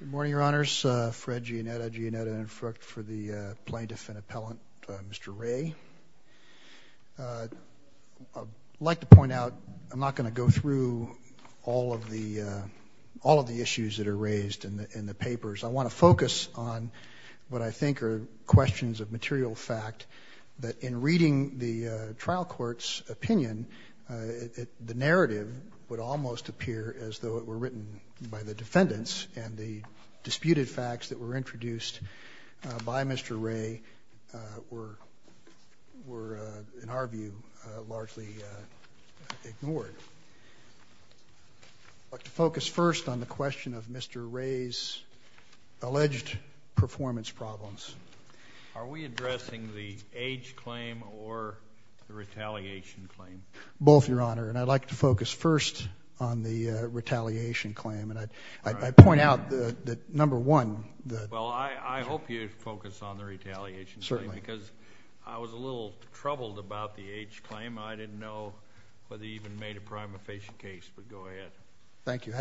Good morning, Your Honors. Fred Giannetta, Giannetta and Frucht for the Plaintiff and Appellant, Mr. Rey. I'd like to point out, I'm not going to go through all of the issues that are raised in the papers. I want to focus on what I think are questions of material fact, that in reading the trial court's opinion, the narrative would almost appear as though it were written by the defendants, and the disputed facts that were introduced by Mr. Rey were, in our view, largely ignored. I'd like to focus first on the question of Mr. Rey's alleged performance problems. Are we addressing the age claim or the retaliation claim? Both, Your Honor. And I'd like to focus first on the retaliation claim. And I'd point out that, number one, the – Well, I hope you focus on the retaliation claim. Certainly. Because I was a little troubled about the age claim. I didn't know whether he even made a prima facie case. But go ahead. Thank you.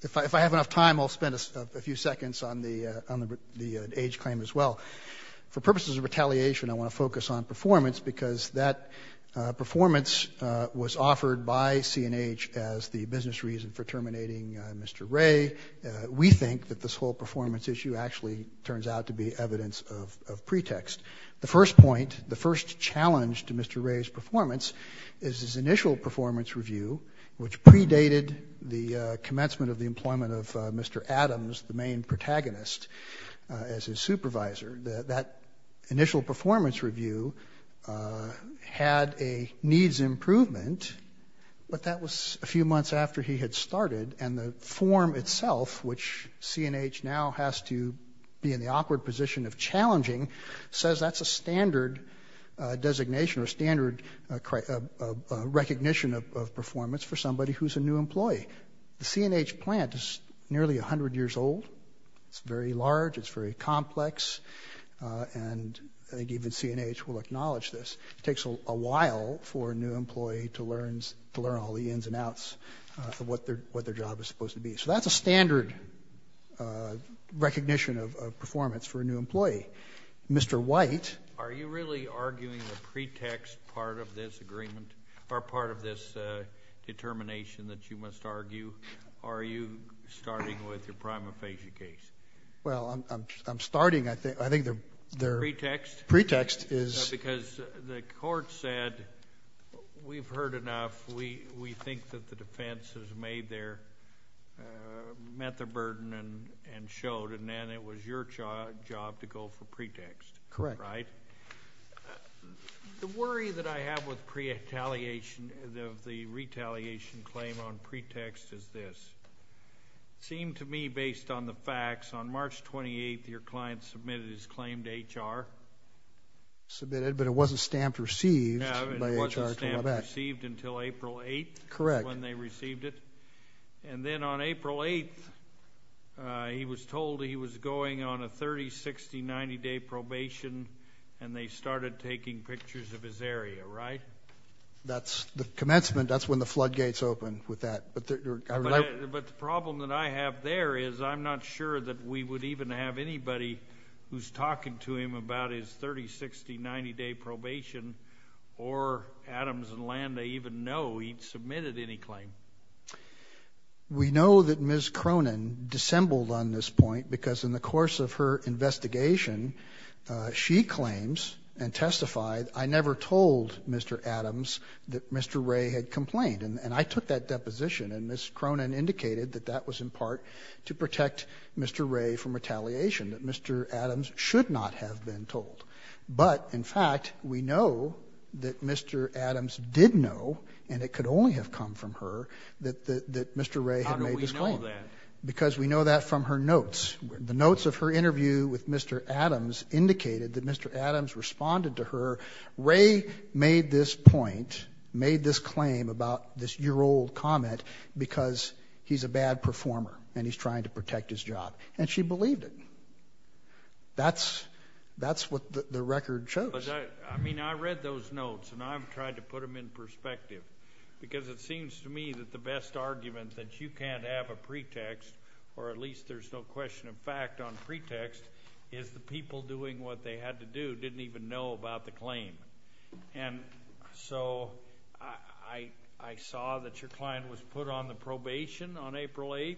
If I have enough time, I'll spend a few seconds on the age claim as well. For purposes of retaliation, I want to focus on performance, because that performance was offered by C&H as the business reason for terminating Mr. Rey. We think that this whole performance issue actually turns out to be evidence of pretext. The first point, the first challenge to Mr. Rey's performance, is his initial performance review, which predated the commencement of the employment of Mr. Adams, the main protagonist, as his supervisor. That initial performance review had a needs improvement, but that was a few months after he had started, and the form itself, which C&H now has to be in the awkward position of challenging, says that's a standard designation or standard recognition of performance for somebody who's a new employee. The C&H plant is nearly 100 years old. It's very large. It's very complex. And I think even C&H will acknowledge this. It takes a while for a new employee to learn all the ins and outs of what their job is supposed to be. So that's a standard recognition of performance for a new employee. Mr. White? Are you really arguing the pretext part of this agreement, or part of this determination that you must argue? Are you starting with your prima facie case? Well, I'm starting. I think their pretext is — I think that the defense has met their burden and showed, and then it was your job to go for pretext. Correct. Right? The worry that I have with the retaliation claim on pretext is this. It seemed to me, based on the facts, on March 28th, your client submitted his claim to HR. Submitted, but it wasn't stamped received by HR. It wasn't stamped received until April 8th. Correct. When they received it. And then on April 8th, he was told he was going on a 30, 60, 90-day probation, and they started taking pictures of his area, right? That's the commencement. That's when the floodgates open with that. But the problem that I have there is I'm not sure that we would even have anybody who's talking to him about his 30, 60, 90-day probation, or Adams and Landa even know he submitted any claim. We know that Ms. Cronin dissembled on this point because in the course of her investigation, she claims and testified, I never told Mr. Adams that Mr. Ray had complained, and I took that deposition, and Ms. Cronin indicated that that was in part to protect Mr. Ray from retaliation, that Mr. Adams should not have been told. But, in fact, we know that Mr. Adams did know, and it could only have come from her, that Mr. Ray had made this claim. How do we know that? Because we know that from her notes. The notes of her interview with Mr. Adams indicated that Mr. Adams responded to her, Ray made this point, made this claim about this year-old comment because he's a bad performer and he's trying to protect his job, and she believed it. That's what the record shows. But, I mean, I read those notes, and I've tried to put them in perspective because it seems to me that the best argument that you can't have a pretext, or at least there's no question of fact on pretext, is the people doing what they had to do didn't even know about the claim. And so I saw that your client was put on the probation on April 8th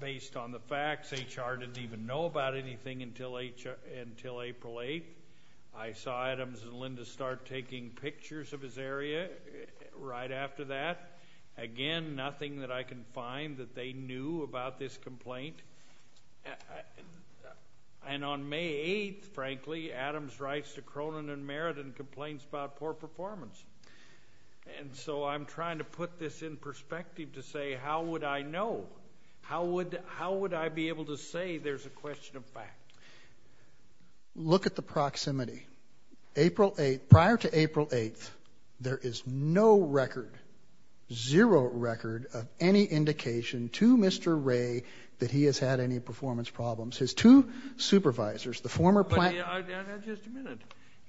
based on the facts. HR didn't even know about anything until April 8th. I saw Adams and Linda start taking pictures of his area right after that. Again, nothing that I can find that they knew about this complaint. And on May 8th, frankly, Adams writes to Cronin and Merritt and complains about poor performance. And so I'm trying to put this in perspective to say how would I know? How would I be able to say there's a question of fact? Look at the proximity. April 8th, prior to April 8th, there is no record, zero record, of any indication to Mr. Ray that he has had any performance problems. His two supervisors, the former plaintiff. Just a minute.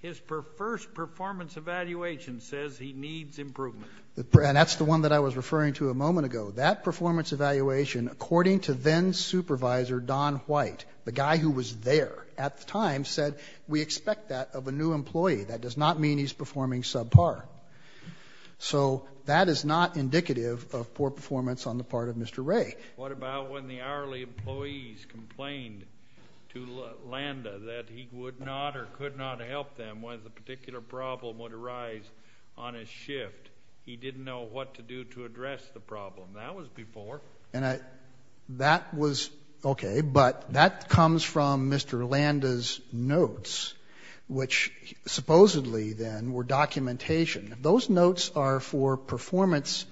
His first performance evaluation says he needs improvement. And that's the one that I was referring to a moment ago. That performance evaluation, according to then supervisor Don White, the guy who was there at the time, said we expect that of a new employee. That does not mean he's performing subpar. So that is not indicative of poor performance on the part of Mr. Ray. What about when the hourly employees complained to Landa that he would not or could not help them when a particular problem would arise on his shift? He didn't know what to do to address the problem. That was before. And that was okay. But that comes from Mr. Landa's notes, which supposedly then were documentation. Those notes are for performance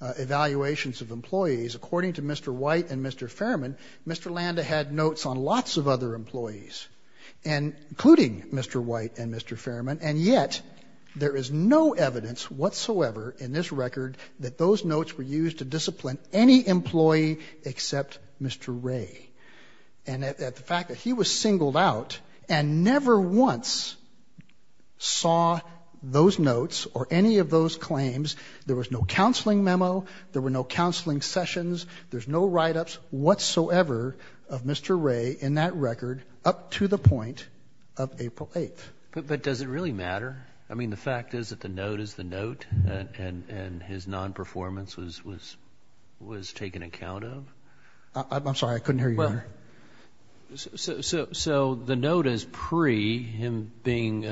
evaluations of employees. According to Mr. White and Mr. Fairman, Mr. Landa had notes on lots of other employees, including Mr. White and Mr. Fairman. And yet there is no evidence whatsoever in this record that those notes were used to discipline any employee except Mr. Ray. And the fact that he was singled out and never once saw those notes or any of those claims, there was no counseling memo, there were no counseling sessions, there's no write-ups whatsoever of Mr. Ray in that record up to the point of April 8th. But does it really matter? I mean, the fact is that the note is the note and his non-performance was taken account of? I'm sorry. I couldn't hear you, Your Honor. So the note is pre him being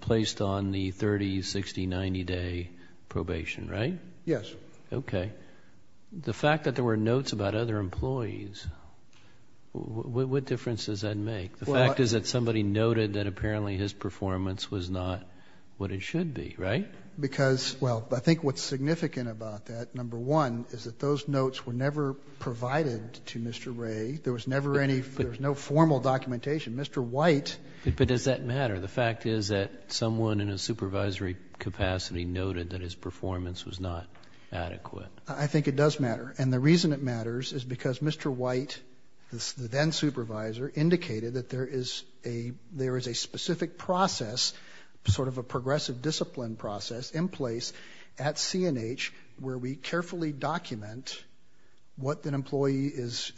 placed on the 30-, 60-, 90-day probation, right? Yes. Okay. The fact that there were notes about other employees, what difference does that make? The fact is that somebody noted that apparently his performance was not what it should be, right? Because, well, I think what's significant about that, number one, is that those notes were never provided to Mr. Ray. There was never any formal documentation. Mr. White. But does that matter? The fact is that someone in a supervisory capacity noted that his performance was not adequate. I think it does matter. And the reason it matters is because Mr. White, the then supervisor, indicated that there is a specific process, sort of a progressive discipline process, in place at CNH where we carefully document what an employee is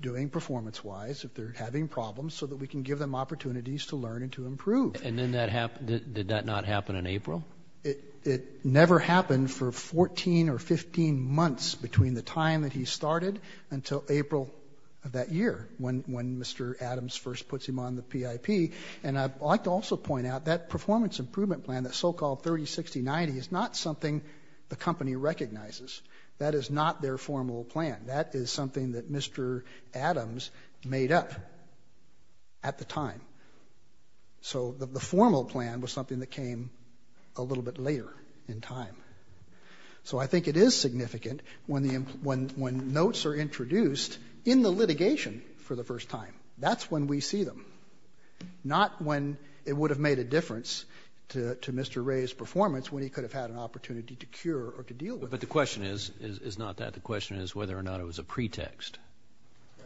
doing performance-wise, if they're having problems, so that we can give them opportunities to learn and to improve. And did that not happen in April? No. It never happened for 14 or 15 months between the time that he started until April of that year, when Mr. Adams first puts him on the PIP. And I'd like to also point out that performance improvement plan, that so-called 30, 60, 90, is not something the company recognizes. That is not their formal plan. That is something that Mr. Adams made up at the time. So the formal plan was something that came a little bit later in time. So I think it is significant when notes are introduced in the litigation for the first time. That's when we see them, not when it would have made a difference to Mr. Ray's performance when he could have had an opportunity to cure or to deal with it. But the question is not that. The question is whether or not it was a pretext.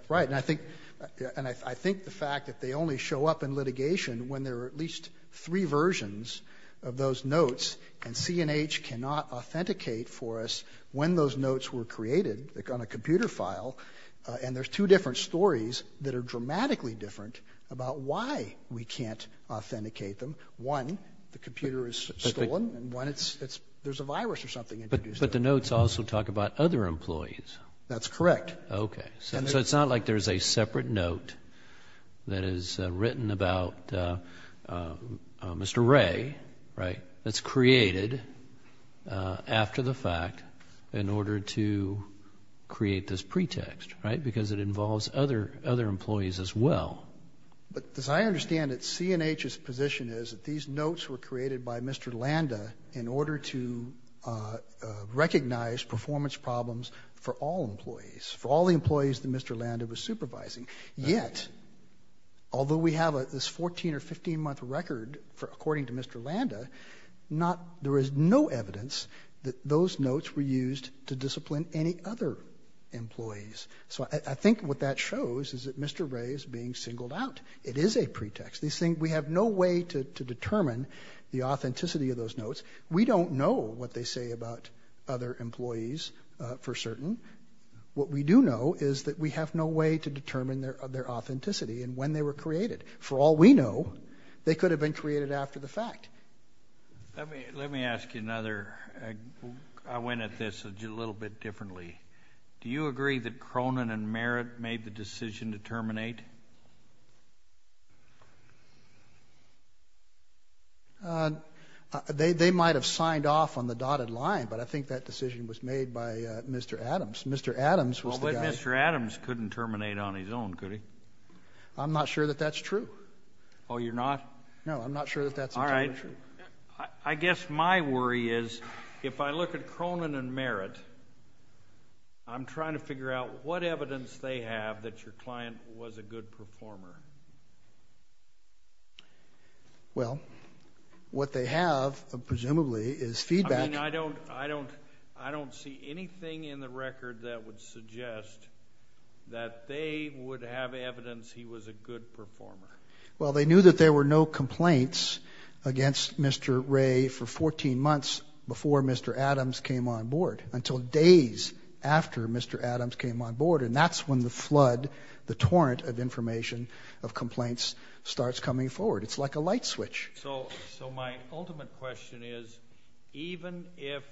Right. And I think the fact that they only show up in litigation when there are at least three versions of those notes and C&H cannot authenticate for us when those notes were created on a computer file and there's two different stories that are dramatically different about why we can't authenticate them. One, the computer is stolen, and one, there's a virus or something introduced. But the notes also talk about other employees. That's correct. Okay. So it's not like there's a separate note that is written about Mr. Ray, right, that's created after the fact in order to create this pretext, right, because it involves other employees as well. But as I understand it, C&H's position is that these notes were created by Mr. Landa in order to recognize performance problems for all employees, for all the employees that Mr. Landa was supervising. Yet, although we have this 14- or 15-month record according to Mr. Landa, there is no evidence that those notes were used to discipline any other employees. So I think what that shows is that Mr. Ray is being singled out. It is a pretext. We have no way to determine the authenticity of those notes. We don't know what they say about other employees for certain. What we do know is that we have no way to determine their authenticity and when they were created. For all we know, they could have been created after the fact. Let me ask you another. I went at this a little bit differently. Do you agree that Cronin and Merritt made the decision to terminate? They might have signed off on the dotted line, but I think that decision was made by Mr. Adams. Mr. Adams was the guy. But Mr. Adams couldn't terminate on his own, could he? I'm not sure that that's true. Oh, you're not? No, I'm not sure that that's entirely true. All right. I guess my worry is if I look at Cronin and Merritt, I'm trying to figure out what evidence they have that your client was a good performer. Well, what they have, presumably, is feedback. I mean, I don't see anything in the record that would suggest that they would have evidence he was a good performer. Well, they knew that there were no complaints against Mr. Ray for 14 months before Mr. Adams came on board, until days after Mr. Adams came on board, and that's when the flood, the torrent of information of complaints, starts coming forward. It's like a light switch. So my ultimate question is, even if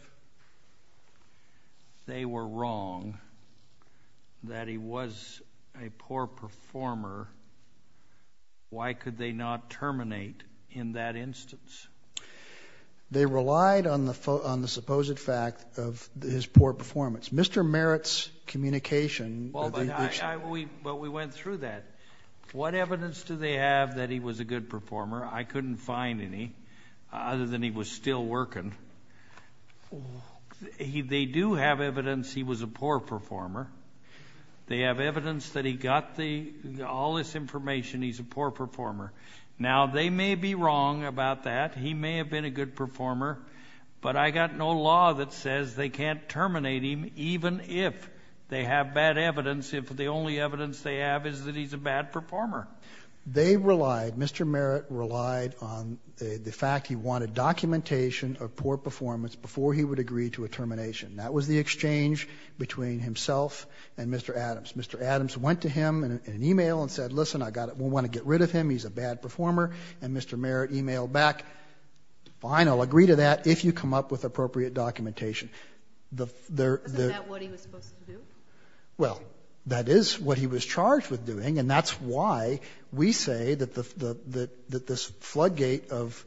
they were wrong that he was a poor performer, why could they not terminate in that instance? They relied on the supposed fact of his poor performance. Mr. Merritt's communication of the issue. Well, but we went through that. What evidence do they have that he was a good performer? I couldn't find any other than he was still working. They do have evidence he was a poor performer. They have evidence that he got all this information he's a poor performer. Now, they may be wrong about that. He may have been a good performer, but I got no law that says they can't terminate him even if they have bad evidence, if the only evidence they have is that he's a bad performer. They relied, Mr. Merritt relied on the fact he wanted documentation of poor performance before he would agree to a termination. That was the exchange between himself and Mr. Adams. Mr. Adams went to him in an e-mail and said, listen, I want to get rid of him, he's a bad performer, and Mr. Merritt e-mailed back, fine, I'll agree to that if you come up with appropriate documentation. Isn't that what he was supposed to do? Well, that is what he was charged with doing, and that's why we say that this floodgate of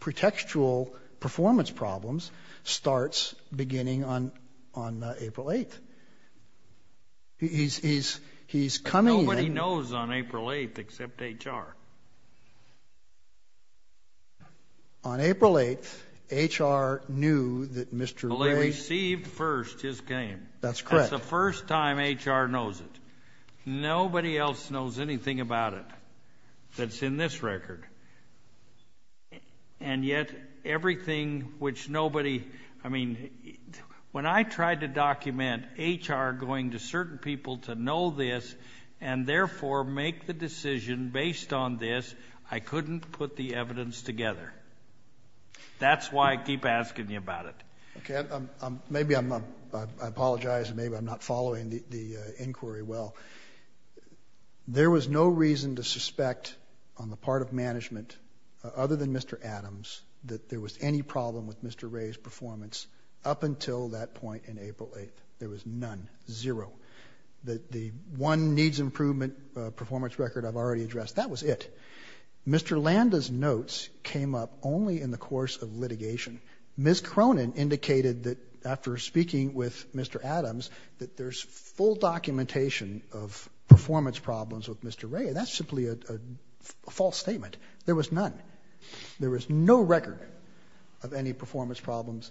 pretextual performance problems starts beginning on April 8th. He's coming in. Nobody knows on April 8th except HR. On April 8th, HR knew that Mr. Merritt. Well, they received first his game. That's correct. That's the first time HR knows it. Nobody else knows anything about it that's in this record. And yet everything which nobody, I mean, when I tried to document HR going to certain people to know this and therefore make the decision based on this, I couldn't put the evidence together. That's why I keep asking you about it. Okay. Maybe I'm apologizing. Maybe I'm not following the inquiry well. There was no reason to suspect on the part of management other than Mr. Adams that there was any problem with Mr. Ray's performance up until that point on April 8th. There was none, zero. The one needs improvement performance record I've already addressed, that was it. Mr. Landa's notes came up only in the course of litigation. Ms. Cronin indicated that after speaking with Mr. Adams that there's full documentation of performance problems with Mr. Ray, and that's simply a false statement. There was none. There was no record of any performance problems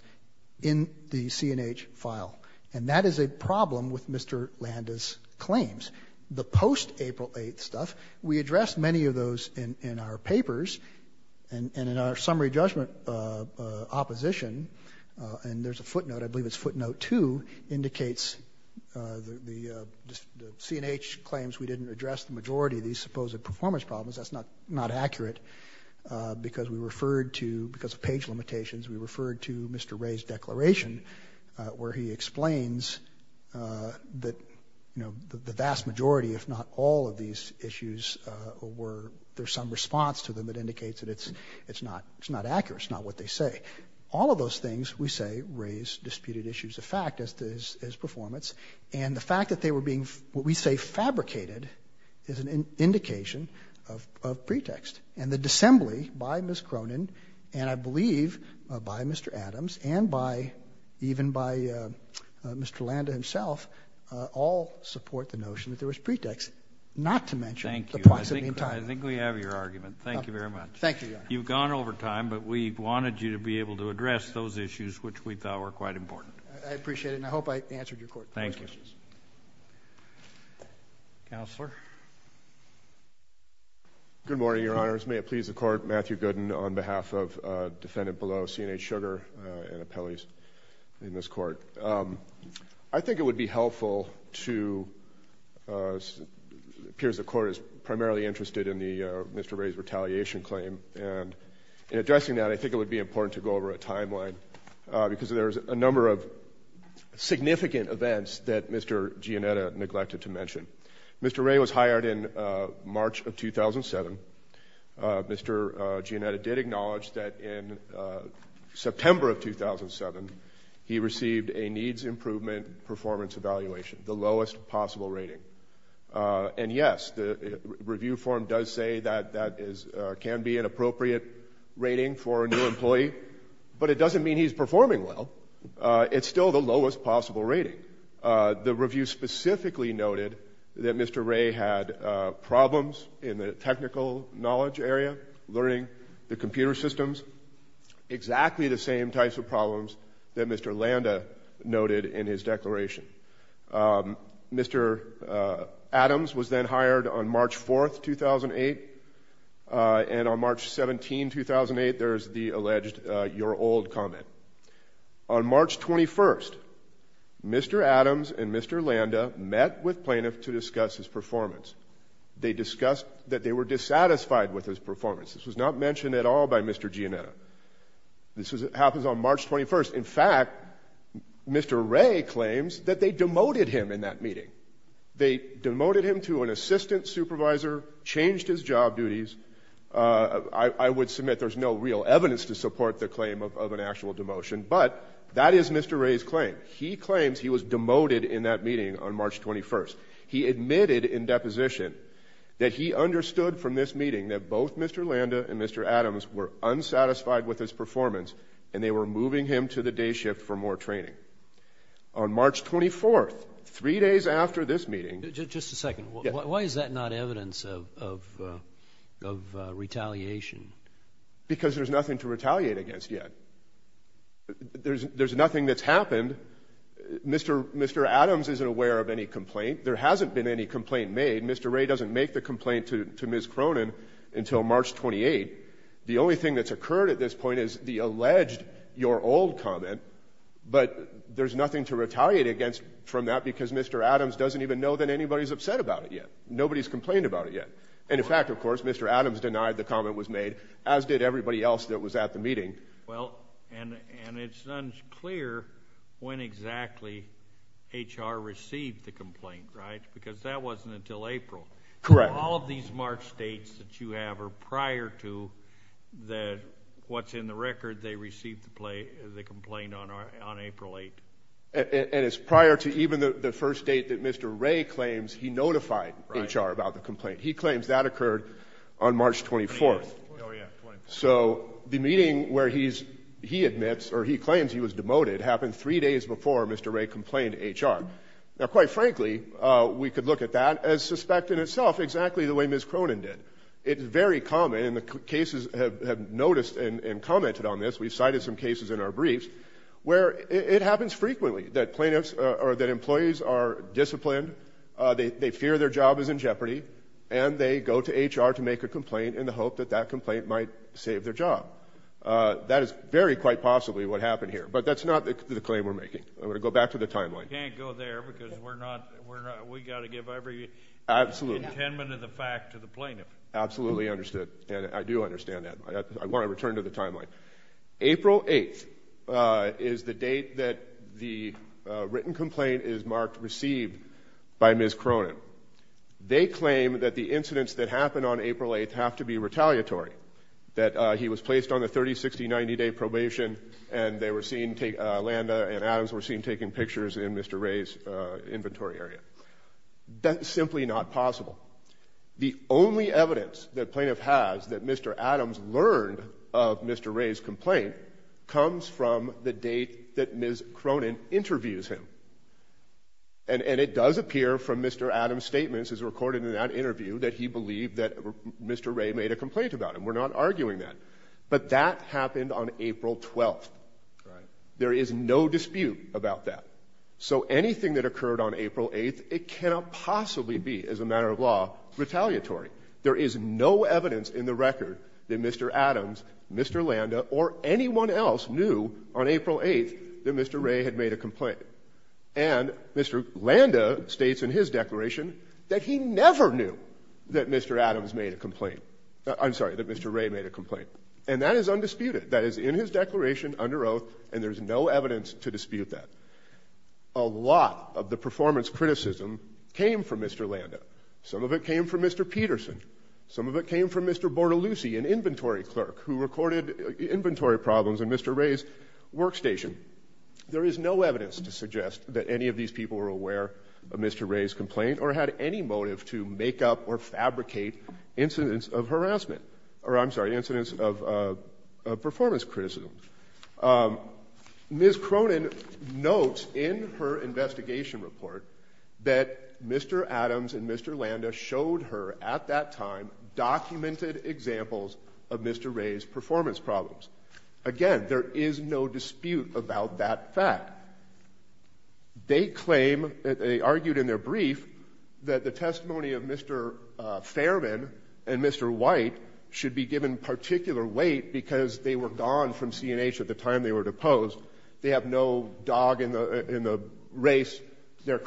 in the CNH file, and that is a problem with Mr. Landa's claims. The post-April 8th stuff, we addressed many of those in our papers and in our summary judgment opposition, and there's a footnote, I believe it's footnote 2, indicates the CNH claims we didn't address the majority of these supposed performance problems. That's not accurate because we referred to, because of page limitations, we referred to Mr. Ray's declaration where he explains that the vast majority, if not all, of these issues were, there's some response to them that indicates that it's not accurate, it's not what they say. All of those things, we say, raise disputed issues of fact as to his performance, and the fact that they were being, what we say, fabricated is an indication of pretext, and the disassembly by Ms. Cronin and, I believe, by Mr. Adams and even by Mr. Landa himself all support the notion that there was pretext, not to mention the proximity in time. Thank you. I think we have your argument. Thank you very much. Thank you, Your Honor. You've gone over time, but we wanted you to be able to address those issues, which we thought were quite important. I appreciate it, and I hope I answered your court questions. Thank you. Counselor. Good morning, Your Honors. May it please the Court, Matthew Gooden on behalf of defendant below, C&H Sugar and appellees in this Court. I think it would be helpful to, it appears the Court is primarily interested in Mr. Ray's retaliation claim, and in addressing that, I think it would be important to go over a timeline because there's a number of significant events that Mr. Gianetta neglected to mention. Mr. Ray was hired in March of 2007. Mr. Gianetta did acknowledge that in September of 2007, he received a needs improvement performance evaluation, the lowest possible rating. And, yes, the review form does say that that can be an appropriate rating for a new employee, but it doesn't mean he's performing well. It's still the lowest possible rating. The review specifically noted that Mr. Ray had problems in the technical knowledge area, learning the computer systems, exactly the same types of problems that Mr. Landa noted in his declaration. Mr. Adams was then hired on March 4, 2008, and on March 17, 2008, there's the alleged you're old comment. On March 21, Mr. Adams and Mr. Landa met with plaintiffs to discuss his performance. They discussed that they were dissatisfied with his performance. This was not mentioned at all by Mr. Gianetta. This happens on March 21. In fact, Mr. Ray claims that they demoted him in that meeting. They demoted him to an assistant supervisor, changed his job duties. I would submit there's no real evidence to support the claim of an actual demotion, but that is Mr. Ray's claim. He claims he was demoted in that meeting on March 21. He admitted in deposition that he understood from this meeting that both Mr. Landa and Mr. Adams were unsatisfied with his performance, and they were moving him to the day shift for more training. On March 24, three days after this meeting. Just a second. Why is that not evidence of retaliation? Because there's nothing to retaliate against yet. There's nothing that's happened. Mr. Adams isn't aware of any complaint. There hasn't been any complaint made. Mr. Ray doesn't make the complaint to Ms. Cronin until March 28. The only thing that's occurred at this point is the alleged you're old comment, but there's nothing to retaliate against from that because Mr. Adams doesn't even know that anybody's upset about it yet. Nobody's complained about it yet. And, in fact, of course, Mr. Adams denied the comment was made, as did everybody else that was at the meeting. Well, and it's unclear when exactly HR received the complaint, right? Because that wasn't until April. Correct. All of these March dates that you have are prior to what's in the record. They received the complaint on April 8. And it's prior to even the first date that Mr. Ray claims he notified HR about the complaint. He claims that occurred on March 24. Oh, yeah, 24. So the meeting where he admits or he claims he was demoted happened three days before Mr. Ray complained to HR. Now, quite frankly, we could look at that as suspect in itself exactly the way Ms. Cronin did. It's very common, and the cases have noticed and commented on this. We've cited some cases in our briefs where it happens frequently that plaintiffs or that employees are disciplined, they fear their job is in jeopardy, and they go to HR to make a complaint in the hope that that complaint might save their job. That is very quite possibly what happened here. But that's not the claim we're making. I'm going to go back to the timeline. You can't go there because we've got to give every intentment and the fact to the plaintiff. Absolutely understood. And I do understand that. I want to return to the timeline. April 8th is the date that the written complaint is marked received by Ms. Cronin. They claim that the incidents that happened on April 8th have to be retaliatory, that he was placed on a 30-, 60-, 90-day probation, and they were seen, Landa and Adams were seen taking pictures in Mr. Ray's inventory area. That's simply not possible. The only evidence that plaintiff has that Mr. Adams learned of Mr. Ray's complaint comes from the date that Ms. Cronin interviews him. And it does appear from Mr. Adams' statements as recorded in that interview that he believed that Mr. Ray made a complaint about him. We're not arguing that. But that happened on April 12th. There is no dispute about that. So anything that occurred on April 8th, it cannot possibly be, as a matter of law, retaliatory. There is no evidence in the record that Mr. Adams, Mr. Landa, or anyone else knew on April 8th that Mr. Ray had made a complaint. And Mr. Landa states in his declaration that he never knew that Mr. Adams made a complaint. I'm sorry, that Mr. Ray made a complaint. And that is undisputed. That is in his declaration under oath, and there's no evidence to dispute that. A lot of the performance criticism came from Mr. Landa. Some of it came from Mr. Peterson. Some of it came from Mr. Bortolussi, an inventory clerk, who recorded inventory problems in Mr. Ray's workstation. There is no evidence to suggest that any of these people were aware of Mr. Ray's complaint or had any motive to make up or fabricate incidents of harassment. Or, I'm sorry, incidents of performance criticism. Ms. Cronin notes in her investigation report that Mr. Adams and Mr. Landa showed her, at that time, documented examples of Mr. Ray's performance problems. Again, there is no dispute about that fact. They claim, they argued in their brief, that the testimony of Mr. Fairman and Mr. White should be given particular weight because they were gone from C&H at the time they were deposed. They have no dog in the race. Their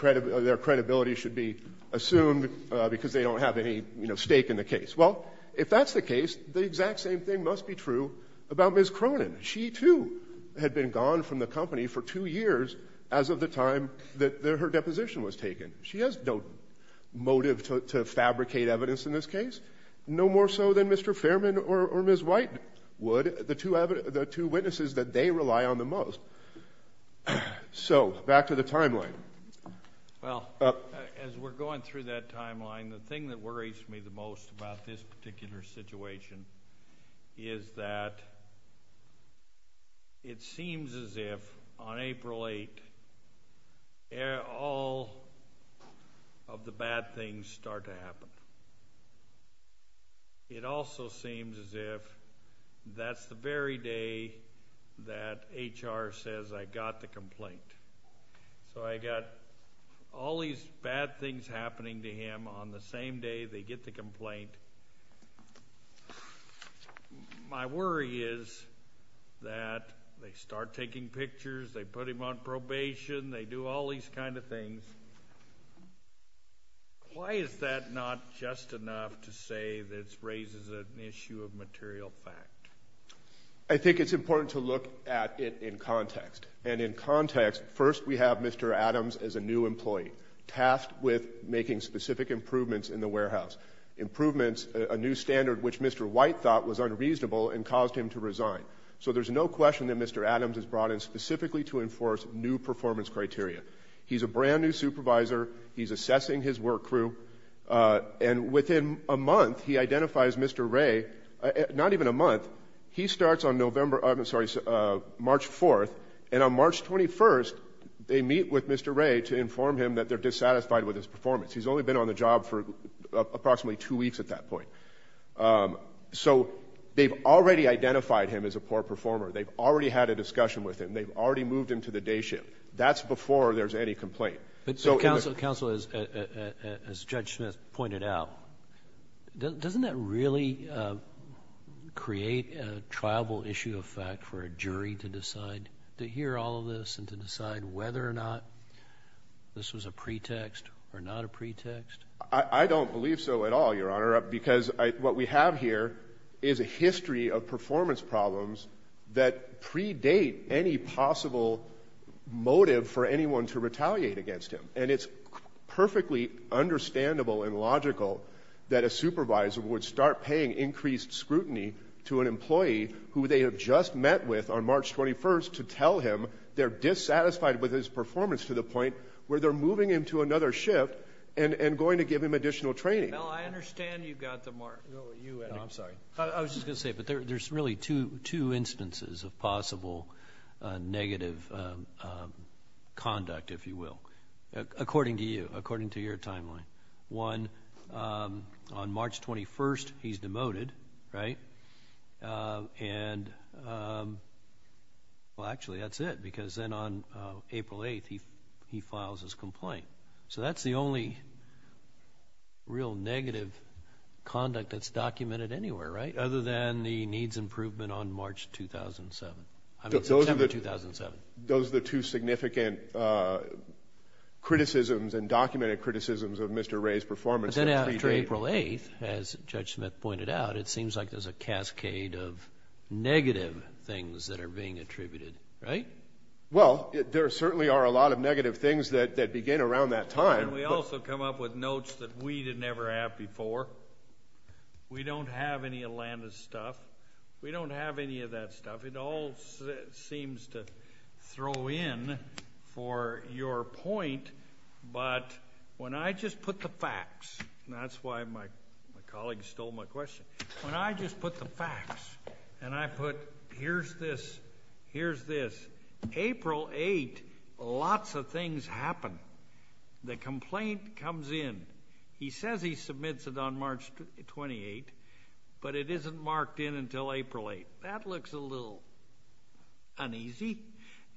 credibility should be assumed because they don't have any stake in the case. Well, if that's the case, the exact same thing must be true about Ms. Cronin. She, too, had been gone from the company for two years as of the time that her deposition was taken. She has no motive to fabricate evidence in this case, no more so than Mr. Fairman or Ms. White would, the two witnesses that they rely on the most. So, back to the timeline. The thing that worries me the most about this particular situation is that it seems as if, on April 8th, all of the bad things start to happen. It also seems as if that's the very day that HR says, I got the complaint. So, I got all these bad things happening to him on the same day they get the complaint. My worry is that they start taking pictures, they put him on probation, they do all these kind of things. Why is that not just enough to say that it raises an issue of material fact? I think it's important to look at it in context. And in context, first we have Mr. Adams as a new employee, tasked with making specific improvements in the warehouse. Improvements, a new standard which Mr. White thought was unreasonable and caused him to resign. So, there's no question that Mr. Adams is brought in specifically to enforce new performance criteria. He's a brand new supervisor. He's assessing his work crew. And within a month, he identifies Mr. Ray. Not even a month. He starts on March 4th. And on March 21st, they meet with Mr. Ray to inform him that they're dissatisfied with his performance. He's only been on the job for approximately two weeks at that point. So, they've already identified him as a poor performer. They've already had a discussion with him. They've already moved him to the day shift. That's before there's any complaint. But, Counsel, as Judge Smith pointed out, doesn't that really create a triable issue of fact for a jury to decide, to hear all of this and to decide whether or not this was a pretext or not a pretext? I don't believe so at all, Your Honor, because what we have here is a history of performance problems that predate any possible motive for anyone to retaliate against him. And it's perfectly understandable and logical that a supervisor would start paying increased scrutiny to an employee who they have just met with on March 21st to tell him they're dissatisfied with his performance to the point where they're moving him to another shift and going to give him additional training. Mel, I understand you've got the mark. No, I'm sorry. I was just going to say, but there's really two instances of possible negative conduct, if you will, according to you, according to your timeline. One, on March 21st, he's demoted, right? And, well, actually, that's it, because then on April 8th, he files his complaint. So that's the only real negative conduct that's documented anywhere, right, other than the needs improvement on March 2007, I mean September 2007. Those are the two significant criticisms and documented criticisms of Mr. Ray's performance. But then after April 8th, as Judge Smith pointed out, it seems like there's a cascade of negative things that are being attributed, right? Well, there certainly are a lot of negative things that begin around that time. And we also come up with notes that we didn't ever have before. We don't have any of Landa's stuff. We don't have any of that stuff. It all seems to throw in for your point, but when I just put the facts, and that's why my colleague stole my question, when I just put the facts and I put here's this, here's this, April 8th, lots of things happen. The complaint comes in. He says he submits it on March 28th, but it isn't marked in until April 8th. That looks a little uneasy,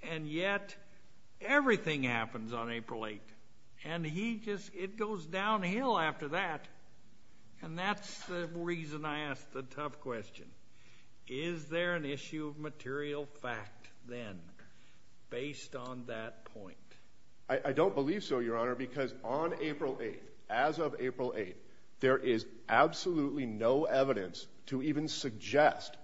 and yet everything happens on April 8th. And he just, it goes downhill after that, and that's the reason I asked the tough question. Is there an issue of material fact then, based on that point? I don't believe so, Your Honor, because on April 8th, as of April 8th, there is absolutely no evidence to even suggest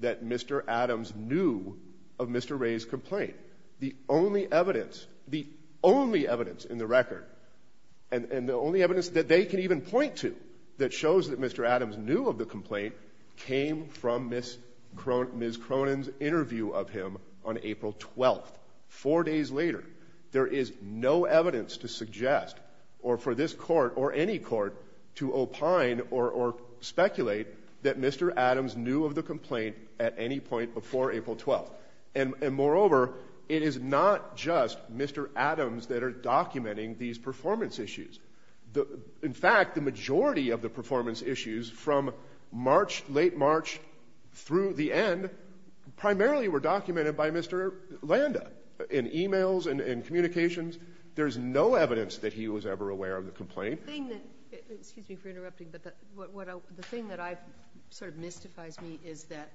that Mr. Adams knew of Mr. Ray's complaint. The only evidence, the only evidence in the record, and the only evidence that they can even point to that shows that Mr. Adams knew of the complaint came from Ms. Cronin's interview of him on April 12th, four days later. There is no evidence to suggest or for this court or any court to opine or speculate that Mr. Adams knew of the complaint at any point before April 12th. And moreover, it is not just Mr. Adams that are documenting these performance issues. In fact, the majority of the performance issues from March, late March, through the end, primarily were documented by Mr. Landa in e-mails and communications. There's no evidence that he was ever aware of the complaint. Excuse me for interrupting, but the thing that sort of mystifies me is that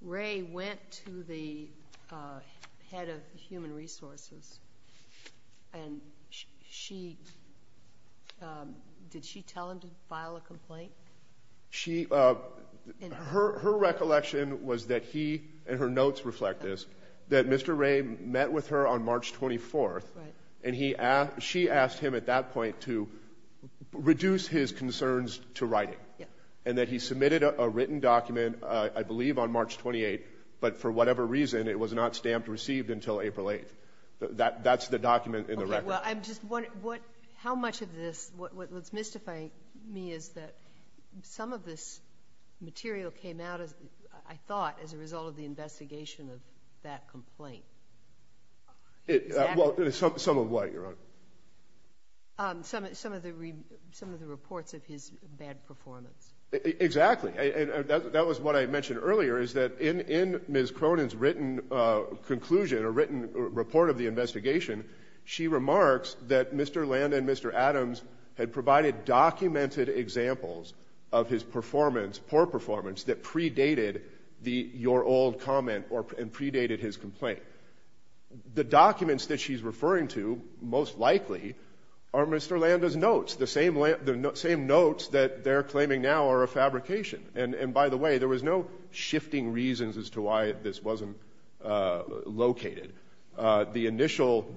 Ray went to the head of human resources and she, did she tell him to file a complaint? Her recollection was that he, and her notes reflect this, that Mr. Ray met with her on March 24th, and she asked him at that point to reduce his concerns to writing, and that he submitted a written document, I believe on March 28th, but for whatever reason it was not stamped received until April 8th. That's the document in the record. Okay, well, I'm just wondering how much of this, what's mystifying me is that some of this material came out, I thought, as a result of the investigation of that complaint. Well, some of what, Your Honor? Some of the reports of his bad performance. Exactly, and that was what I mentioned earlier, is that in Ms. Cronin's written conclusion, or written report of the investigation, she remarks that Mr. Landa and Mr. Adams had provided documented examples of his performance, poor performance, that predated your old comment and predated his complaint. The documents that she's referring to, most likely, are Mr. Landa's notes, the same notes that they're claiming now are a fabrication, and by the way, there was no shifting reasons as to why this wasn't located. The initial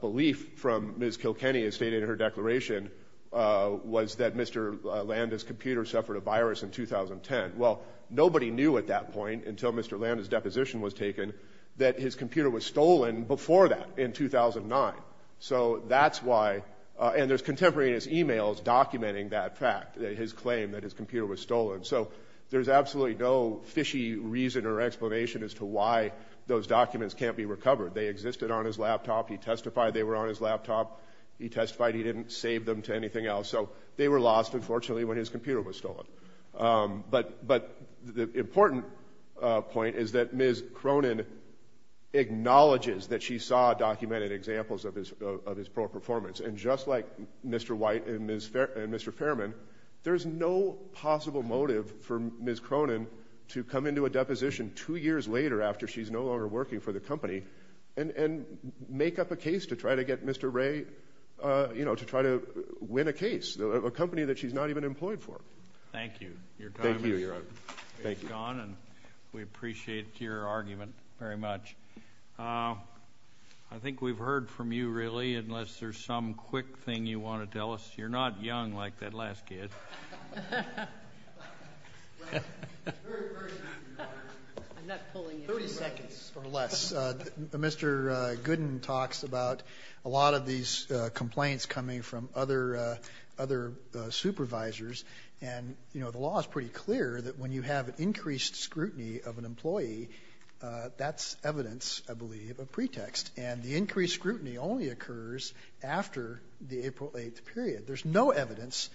belief from Ms. Kilkenny, as stated in her declaration, was that Mr. Landa's computer suffered a virus in 2010. Well, nobody knew at that point, until Mr. Landa's deposition was taken, that his computer was stolen before that, in 2009. So that's why, and there's contemporaneous emails documenting that fact, his claim that his computer was stolen. So there's absolutely no fishy reason or explanation as to why those documents can't be recovered. They existed on his laptop, he testified they were on his laptop, he testified he didn't save them to anything else, so they were lost, unfortunately, when his computer was stolen. But the important point is that Ms. Cronin acknowledges that she saw documented examples of his poor performance, and just like Mr. White and Mr. Fairman, there's no possible motive for Ms. Cronin to come into a deposition two years later after she's no longer working for the company, and make up a case to try to get Mr. Ray, you know, to try to win a case, a company that she's not even employed for. Thank you. Your time is gone, and we appreciate your argument very much. I think we've heard from you, really, unless there's some quick thing you want to tell us. You're not young like that last kid. Thirty seconds or less. Mr. Gooden talks about a lot of these complaints coming from other supervisors, and, you know, the law is pretty clear that when you have increased scrutiny of an employee, that's evidence, I believe, of pretext, and the increased scrutiny only occurs after the April 8th period. There's no evidence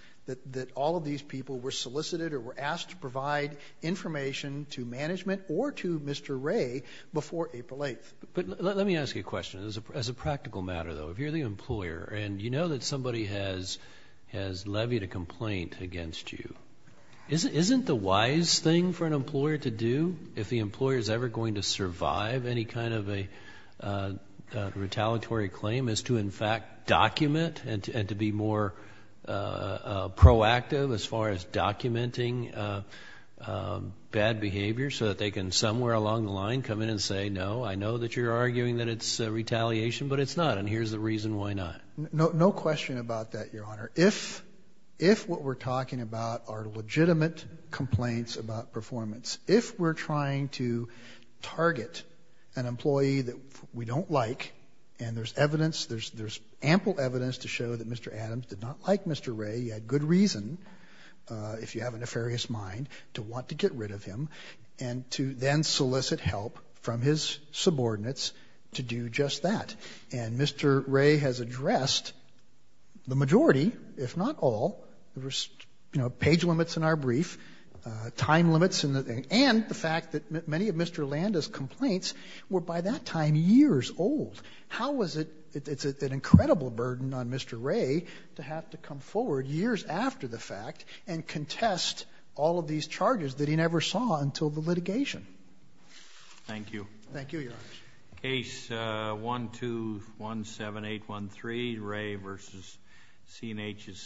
that all of these people were solicited or were asked to provide information to management or to Mr. Ray before April 8th. But let me ask you a question. As a practical matter, though, if you're the employer and you know that somebody has levied a complaint against you, isn't the wise thing for an employer to do, if the employer is ever going to survive any kind of a retaliatory claim, is to, in fact, document and to be more proactive as far as documenting bad behavior so that they can somewhere along the line come in and say, no, I know that you're arguing that it's retaliation, but it's not, and here's the reason why not. No question about that, Your Honor. If what we're talking about are legitimate complaints about performance, if we're trying to target an employee that we don't like and there's evidence, there's ample evidence to show that Mr. Adams did not like Mr. Ray, he had good reason, if you have a nefarious mind, to want to get rid of him, and to then solicit help from his subordinates to do just that, and Mr. Ray has addressed the majority, if not all, there was page limits in our brief, time limits, and the fact that many of Mr. Landa's complaints were by that time years old. How is it that it's an incredible burden on Mr. Ray to have to come forward years after the fact and contest all of these charges that he never saw until the litigation? Thank you. Thank you, Your Honor. Case 1217813, Ray v. C&H is submitted.